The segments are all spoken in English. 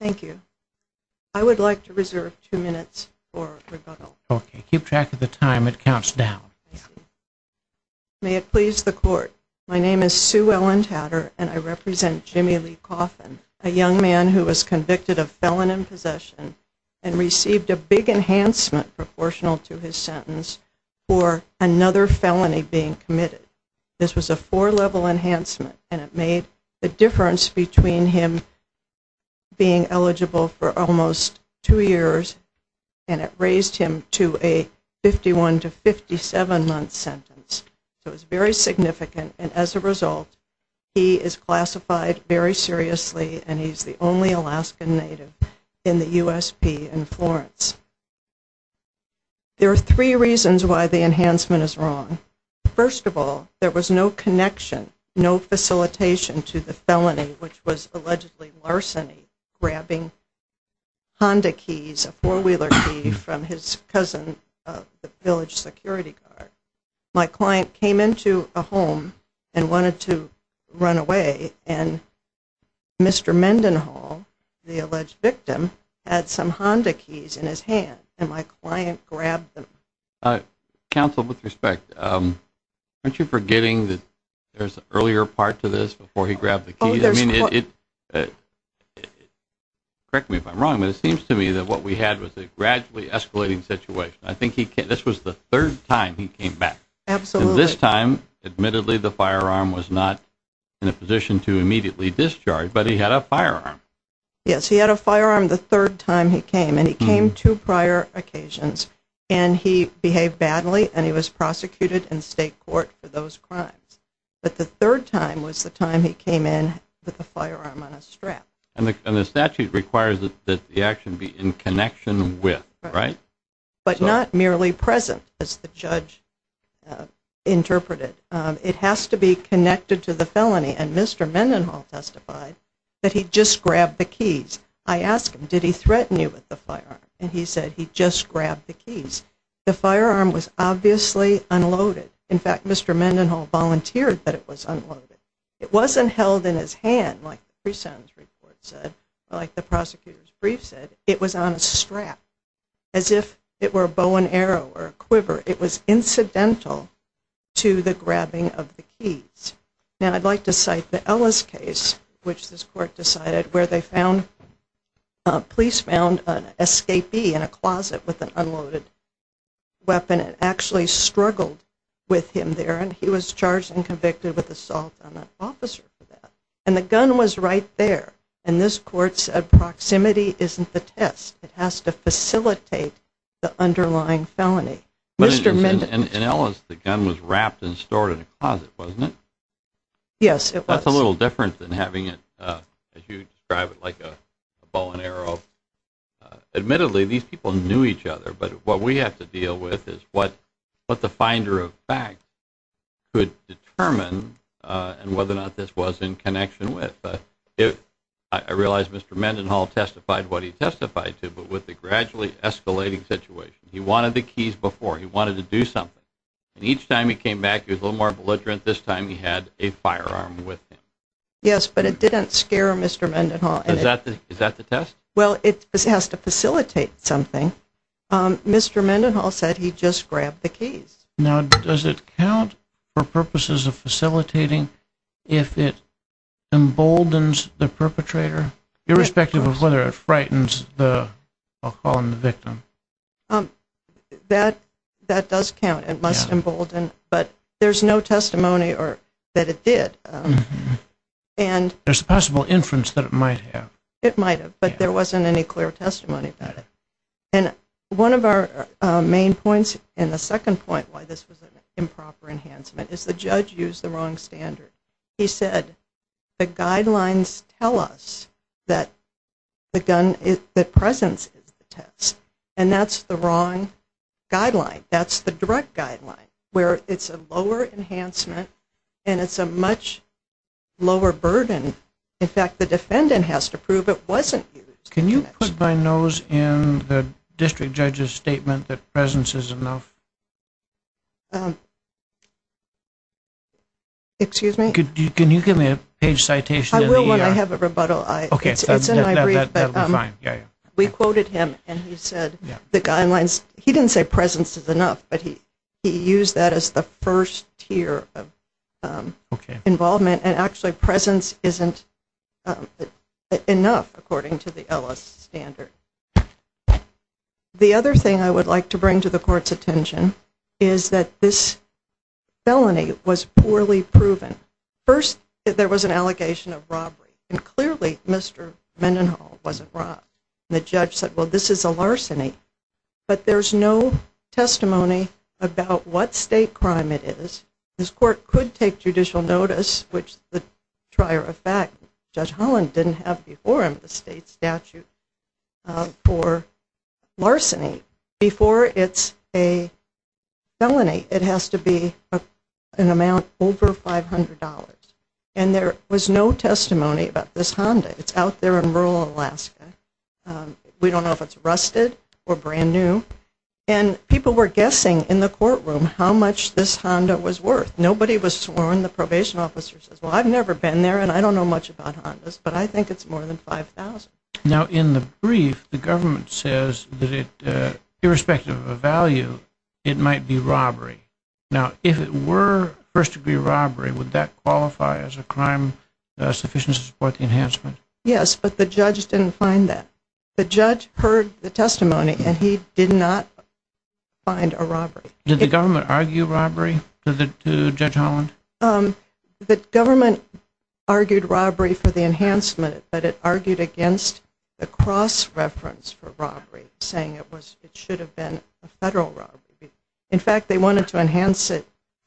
Thank you. I would like to reserve two minutes for rebuttal. Okay. Keep track of the time. It counts down. May it please the Court, my name is Sue Ellen Tatter and I represent Jimmy Lee Coffin, a young man who was convicted of felon in possession and received a big enhancement proportional to his sentence for another felony being committed. This was a four level enhancement and it made the difference between him being eligible for almost two years and it raised him to a 51 to 57 month sentence. It was very significant and as a result he is classified very seriously and he is the only Alaskan native in the USP in Florence. There are three reasons why the enhancement is wrong. First of all, there was no connection, no facilitation to the felony which was allegedly larceny, grabbing Honda keys, a four wheeler key from his cousin of the village security guard. My client came into a home and wanted to run away and Mr. Mendenhall, the alleged victim, had some Honda keys in his hand and my client grabbed them. Counsel, with respect, aren't you forgetting that there's an earlier part to this before he grabbed the keys? Correct me if I'm wrong, but it seems to me that what we had was a gradually escalating situation. This was the third time he came back and this time, admittedly, the firearm was not in a position to immediately discharge, but he had a firearm. Yes, he had a firearm the third time he came and he came two prior occasions and he behaved badly and he was prosecuted in the third time was the time he came in with a firearm on a strap. And the statute requires that the action be in connection with, right? But not merely present, as the judge interpreted. It has to be connected to the felony and Mr. Mendenhall testified that he just grabbed the keys. I asked him, did he threaten you with the firearm? And he said he just grabbed the keys. The firearm was obviously unloaded. In fact, Mr. Mendenhall volunteered that it was unloaded. It wasn't held in his hand, like the pre-sentence report said, like the prosecutor's brief said. It was on a strap, as if it were a bow and arrow or a quiver. It was incidental to the grabbing of the keys. Now, I'd like to cite the Ellis case, which this court decided, where they found, police found an escapee in a closet with an unloaded weapon and actually struggled with him there. And he was charged and convicted with assault on an officer for that. And the gun was right there. And this court's proximity isn't the test. It has to facilitate the underlying felony. Mr. Mendenhall... And Ellis, the gun was wrapped and stored in a closet, wasn't it? Yes, it was. That's a little different than having it, as you describe it, like a bow and arrow. Admittedly, these people knew each other, but what we have to deal with is what the finder of facts could determine and whether or not this was in connection with. I realize Mr. Mendenhall testified what he testified to, but with the gradually escalating situation. He wanted the keys before. He wanted to do something. And each time he came back, he was a little more belligerent. This time he had a firearm with him. Yes, but it didn't scare Mr. Mendenhall. Is that the test? Well, it has to facilitate something. Mr. Mendenhall said he just grabbed the keys. Now, does it count for purposes of facilitating if it emboldens the perpetrator, irrespective of whether it frightens the, I'll call him the victim? That does count. It must embolden. But there's no testimony that it did. And... There's a possible inference that it might have. It might have, but there wasn't any clear testimony about it. And one of our main points, and the second point why this was an improper enhancement is the judge used the wrong standard. He said, the guidelines tell us that the gun, that presence is the test. And that's the wrong guideline. That's the direct guideline, where it's a lower enhancement and it's a much lower burden. In fact, the Can you put my nose in the district judge's statement that presence is enough? Excuse me? Can you give me a page citation? I will when I have a rebuttal. It's in my brief. We quoted him, and he said the guidelines, he didn't say presence is enough, but he used that as the first tier of involvement. And actually, presence isn't enough, according to the Ellis standard. The other thing I would like to bring to the court's attention is that this felony was poorly proven. First, there was an allegation of robbery. And clearly, Mr. Mendenhall wasn't robbed. And the judge said, well, this is a larceny. But there's no testimony about what state crime it is. This court could take judicial notice, which is the trier of fact. Judge Holland didn't have before him the state statute for larceny. Before it's a felony, it has to be an amount over $500. And there was no testimony about this Honda. It's out there in rural Alaska. We don't know if it's rusted or brand new. And people were guessing in the courtroom how much this Honda was worth. Nobody was sworn. The probation officer says, well, I've never been there, and I don't know much about Hondas. But I think it's more than $5,000. Now, in the brief, the government says that it, irrespective of value, it might be robbery. Now, if it were first-degree robbery, would that qualify as a crime sufficient to support the enhancement? Yes, but the judge didn't find that. The judge heard the testimony, and he did not find a robbery. Did the government argue robbery to Judge Holland? The government argued robbery for the enhancement, but it argued against the cross-reference for robbery, saying it should have been a federal robbery. In fact, they wanted to enhance it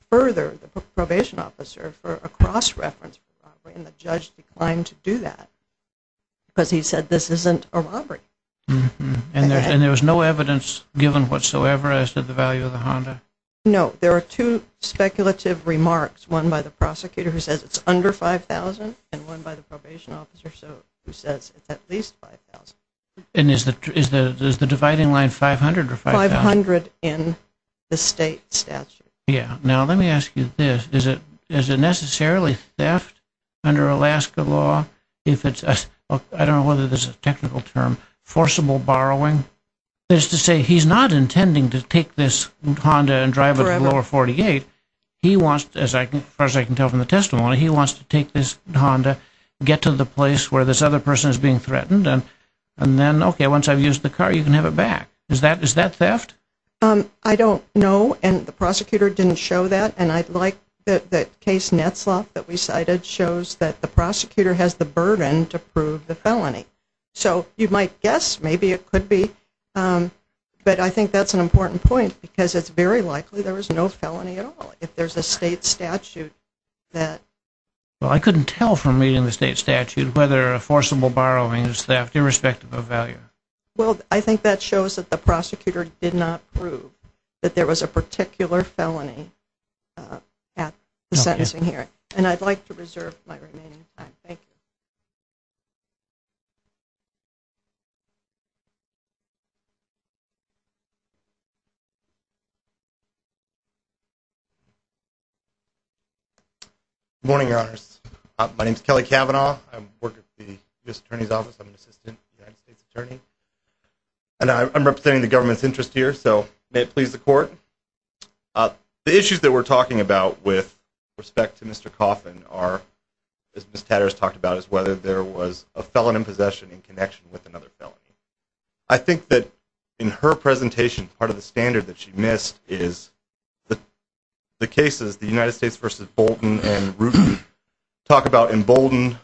further, the probation officer, for a cross-reference for robbery, and the judge declined to do that because he said this isn't a robbery. And there was no evidence given whatsoever as to the value of the Honda? No. There are two speculative remarks, one by the prosecutor who says it's under $5,000, and one by the probation officer who says it's at least $5,000. And is the dividing line $500 or $5,000? $500 in the state statute. Yeah. Now, let me ask you this. Is it necessarily theft under Alaska law if it's a, I don't know whether this is a technical term, forcible borrowing? That is to say, he's not intending to take this Honda and drive it to Lower 48. He wants, as far as I can tell from the testimony, he wants to take this Honda, get to the place where this other person is being threatened, and then, okay, once I've used the car, you can have it back. Is that theft? I don't know, and the prosecutor didn't show that, and I'd like the case Netzlaff that we cited shows that the prosecutor has the burden to prove the felony. So, you might guess, maybe it could be, but I think that's an important point because it's very likely there was no felony at all if there's a state statute that... Well, I couldn't tell from reading the state statute whether a forcible borrowing is theft irrespective of value. Well, I think that shows that the prosecutor did not prove that there was a particular felony at the sentencing hearing, and I'd like to reserve my remaining time. Thank you....... Good morning, Your Honors. My name's Kelly Cavanaugh. I work at the U.S. Attorney's Office. I'm an Assistant United States Attorney, and I'm representing the government's interest here, so may it please the Court. The issues that we're talking about with respect to Mr. Coffin are, as Ms. Tatters talked about, is whether there was a felon in possession in connection with another felon. I think that in her presentation, part of the standard that she missed is the cases, the United States v. Bolton and Rooten, talk about emboldened,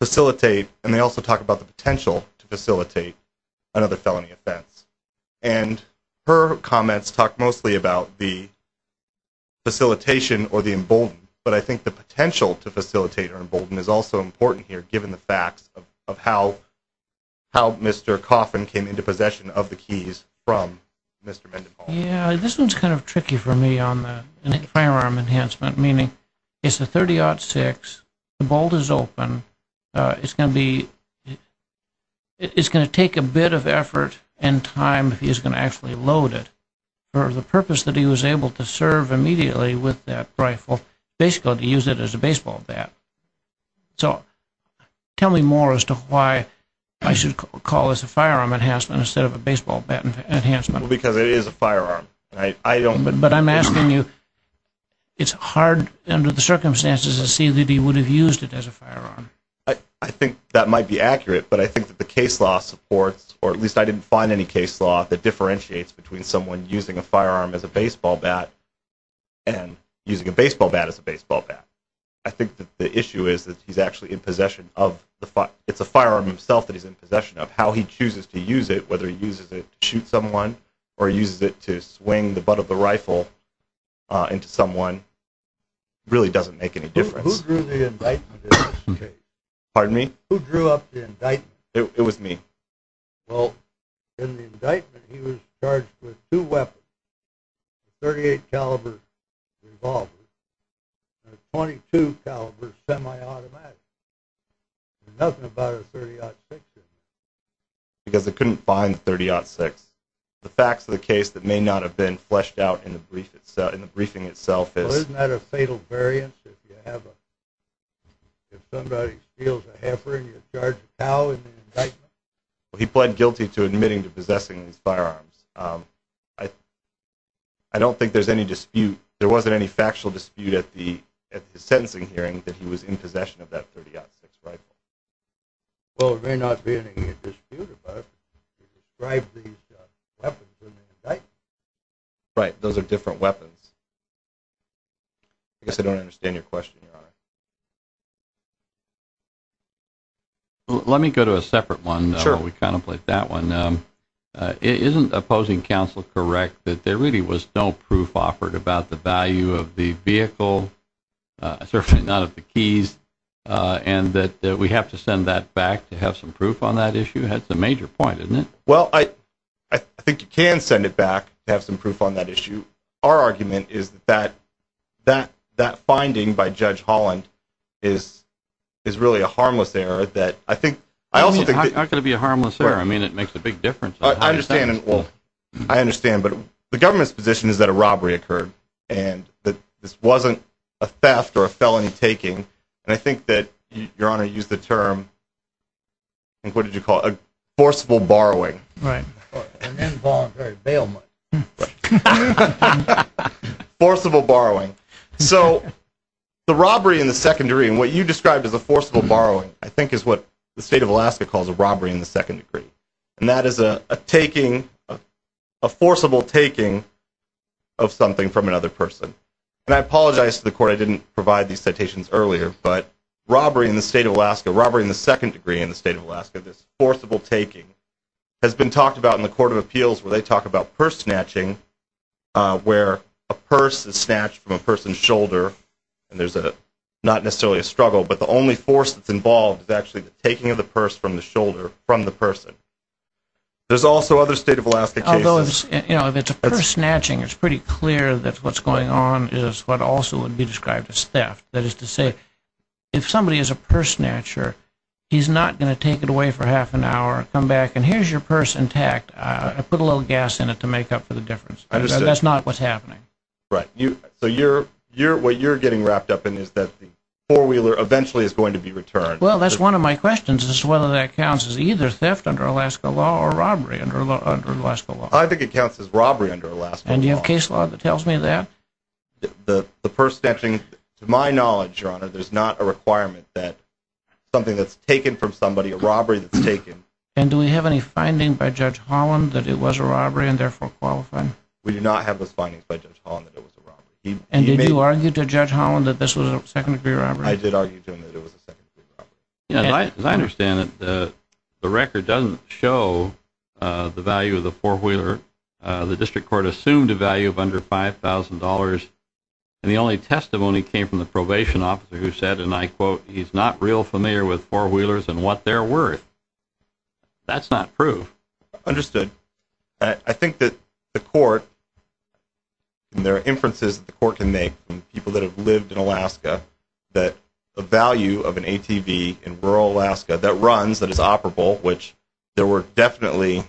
facilitate, and they also talk about the potential to facilitate another felony offense. And her comments talk mostly about the facilitation or the emboldened, but I think the potential to facilitate or embolden is also important here, given the facts of how Mr. Coffin came into possession of the keys from Mr. Mendenhall. Yeah, this one's kind of tricky for me on the firearm enhancement, meaning it's a .30-06, the bolt is open, it's going to be it's going to take a bit of effort and time if he's going to actually load it. For the purpose that he was able to serve immediately with that baseball bat. So, tell me more as to why I should call this a firearm enhancement instead of a baseball bat enhancement. Because it is a firearm. But I'm asking you, it's hard under the circumstances to see that he would have used it as a firearm. I think that might be accurate, but I think that the case law supports, or at least I didn't find any case law that differentiates between someone using a firearm as a baseball bat and using a baseball bat as a baseball bat. I think that the issue is that he's actually in possession of it's a firearm himself that he's in possession of. How he chooses to use it, whether he uses it to shoot someone or uses it to swing the butt of the rifle into someone, really doesn't make any difference. Who drew the indictment in this case? Pardon me? Who drew up the indictment? It was me. Well, in the indictment he was charged with two weapons, a .38 caliber revolver and a .22 caliber semi-automatic. There's nothing about a .30-06 in there. Because they couldn't find the .30-06. The facts of the case that may not have been fleshed out in the briefing itself is Well, isn't that a fatal variance if you have a, if somebody steals a heifer and you charge a cow in the indictment? He pled guilty to admitting to possessing these firearms. I don't think there's any dispute. There wasn't any factual dispute at the sentencing hearing that he was in possession of that .30-06 rifle. Well, there may not be any dispute about it. He described these weapons in the indictment. Right. Those are different weapons. I guess I don't understand your question, Your Honor. Let me go to a separate one. Sure. We contemplate that one. Isn't opposing counsel correct that there really was no proof offered about the value of the vehicle certainly none of the keys, and that we have to send that back to have some proof on that issue? That's a major point, isn't it? I think you can send it back to have some proof on that issue. Our argument is that that finding by Judge Holland is really a harmless error. How can it be a harmless error? I mean, it makes a big difference. I understand, but the government's position is that a robbery occurred and that this wasn't a theft or a felony taking. And I think that, Your Honor, you used the term what did you call it? A forcible borrowing. Right. An involuntary bail money. Forcible borrowing. So, the robbery in the secondary and what you what the state of Alaska calls a robbery in the second degree. And that is a taking, a forcible taking of something from another person. And I apologize to the Court, I didn't provide these citations earlier, but robbery in the state of Alaska, robbery in the second degree in the state of Alaska, this forcible taking, has been talked about in the Court of Appeals where they talk about purse snatching, where a purse is snatched from a person's shoulder, and there's not necessarily a struggle, but the only force that's involved is actually the taking of the purse from the shoulder from the person. There's also other state of Alaska cases Although, if it's a purse snatching, it's pretty clear that what's going on is what also would be described as theft. That is to say, if somebody is a purse snatcher, he's not going to take it away for half an hour, come back and here's your purse intact, put a little gas in it to make up for the difference. That's not what's happening. Right. So, what you're getting wrapped up in is that the four-wheeler eventually is going to be returned. Well, that's one of my questions as to whether that counts as either theft under Alaska law or robbery under Alaska law. I think it counts as robbery under Alaska law. And do you have case law that tells me that? The purse snatching, to my knowledge, Your Honor, there's not a requirement that something that's taken from somebody, a robbery that's taken. And do we have any finding by Judge Holland that it was a robbery and therefore qualified? We do not have those findings by Judge Holland that it was a robbery. And did you argue to Judge Holland that this was a second degree robbery? I did argue to him that it was a second degree robbery. As I understand it, the record doesn't show the value of the four-wheeler. The district court assumed a value of under $5,000 and the only testimony came from the probation officer who said, and I quote, he's not real familiar with four-wheelers and what they're worth. That's not proof. Understood. I think that the court and there are inferences that the court can make from people that have lived in Alaska that the value of an ATV in rural Alaska that runs, that is operable, which there were definitely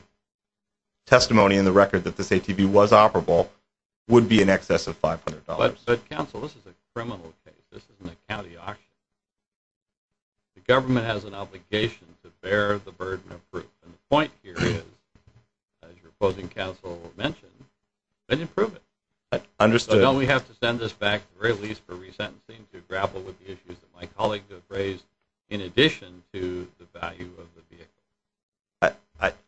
testimony in the record that this ATV was operable, would be in excess of $500. But counsel, this is a criminal case. This isn't a county auction. The government has an obligation to bear the burden of proof. And the point here is, as your opposing counsel mentioned, then improve it. Understood. So now we have to send this back, or at least for resentencing, to grapple with the issues that my colleagues have raised in addition to the value of the vehicle.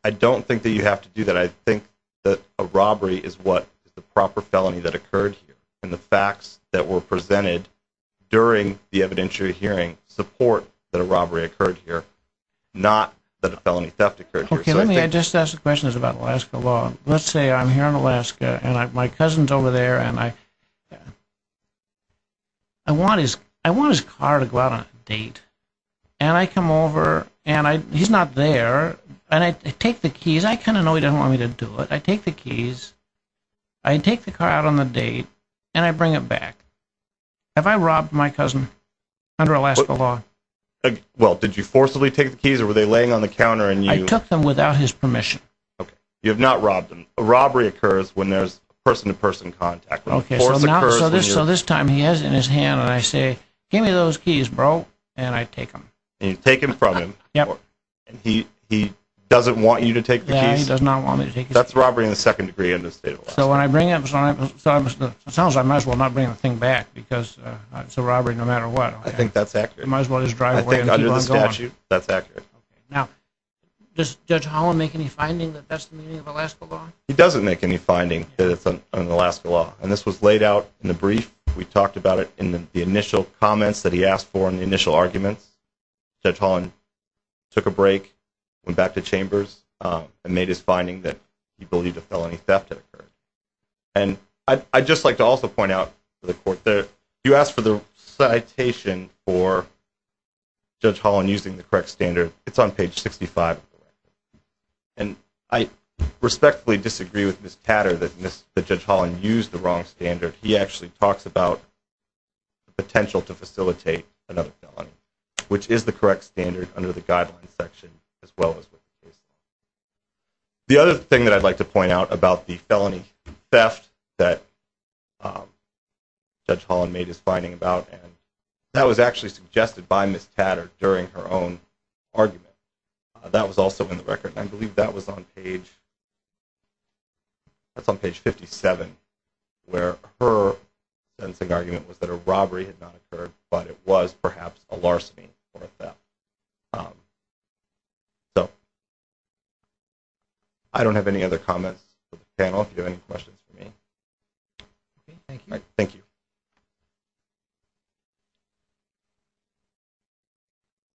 I don't think that you have to do that. I think that a robbery is what is the proper felony that occurred here and the facts that were presented during the evidentiary hearing support that a robbery occurred here, not that a question is about Alaska law. Let's say I'm here in Alaska and my cousin's over there and I want his car to go out on a date. And I come over and he's not there. And I take the keys. I kind of know he doesn't want me to do it. I take the keys. I take the car out on the date and I bring it back. Have I robbed my cousin under Alaska law? Well, did you forcibly take the keys or were they laying on the counter and you... I took them without his permission. Okay. You have not robbed them. A robbery occurs when there's person-to-person contact. Okay. So now, so this time he has it in his hand and I say, give me those keys, bro. And I take them. And you take them from him. Yep. And he doesn't want you to take the keys? Yeah, he does not want me to take the keys. That's robbery in the second degree under the state of Alaska. So when I bring it, it sounds like I might as well not bring the thing back because it's a robbery no matter what. I think that's accurate. I might as well just drive away and keep on going. That's accurate. Okay. Now, does Judge Holland make any finding that that's the meaning of Alaska law? He doesn't make any finding that it's an Alaska law. And this was laid out in the brief. We talked about it in the initial comments that he asked for and the initial arguments. Judge Holland took a break, went back to chambers, and made his finding that he believed a felony theft had occurred. And I'd just like to also point out to the court that you asked for the citation for Judge Holland using the correct standard. It's on page 65 of the record. And I respectfully disagree with Ms. Tatter that Judge Holland used the wrong standard. He actually talks about the potential to facilitate another felony, which is the correct standard under the guidelines section as well as what it is. The other thing that I'd like to point out about the felony theft that Judge Holland made his finding about and that was actually suggested by Ms. Tatter during her own argument. That was also in the record and I believe that was on page that's on page 57 where her sentencing argument was that a robbery had not occurred but it was perhaps a larceny or a theft. So, I don't have any other comments for the panel if you have any questions for me. Thank you.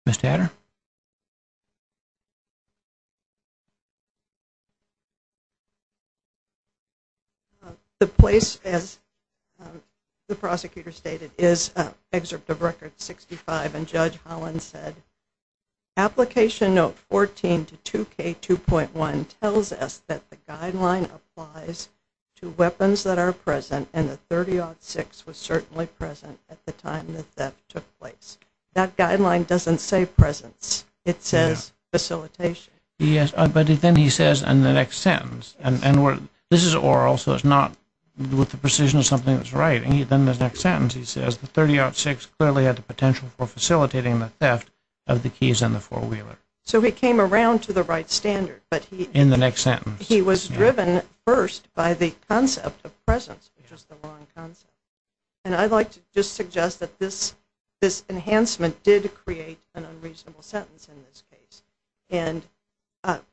Ms. Tatter? The place as the prosecutor stated is excerpt of record 65 and Judge Holland said application note 14 to 2K2.1 tells us that the guideline applies to weapons that are present and the 30-06 was certainly present at the time that theft took place. That guideline doesn't say presence. It says facilitation. Yes, but then he says in the next sentence and this is oral so it's not with the precision of something that's right. And then in the next sentence he says the 30-06 clearly had the potential for facilitating the theft of the keys and the four-wheeler. So, he came around to the right standard. In the next sentence. He was driven first by the concept of presence, which was the wrong concept. And I'd like to just suggest that this enhancement did create an unreasonable sentence in this case. And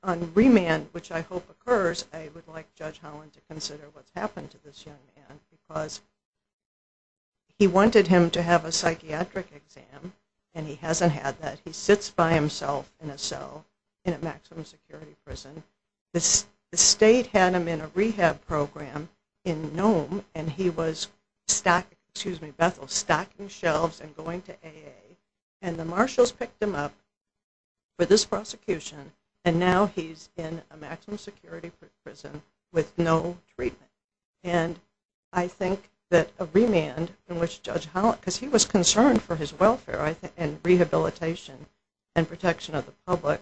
on remand, which I hope occurs, I would like Judge Holland to consider what's happened to this young man because he wanted him to have a psychiatric exam and he hasn't had that. He sits by himself in a cell in a maximum security prison. The state had him in a rehab program in Nome and he was stocking shelves and going to AA. And the marshals picked him up for this prosecution and now he's in a maximum security prison with no treatment. And I think that a remand in which Judge Holland, because he was concerned for his welfare and rehabilitation and protection of the public,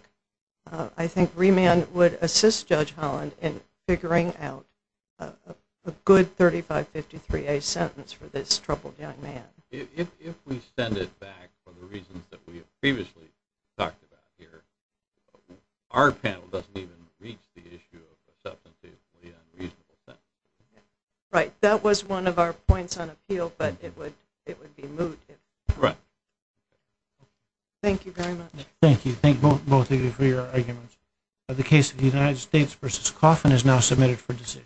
I think remand would assist Judge Holland in figuring out a good 3553A sentence for this troubled young man. If we send it back for the reasons that we have previously talked about here, our panel doesn't even reach the issue of the substance of the unreasonable sentence. Right. That was one of our points on appeal, but it would be moot. Right. Thank you very much. Thank you. Thank both of you for your arguments. The case of the United States v. Coffin is now submitted for decision.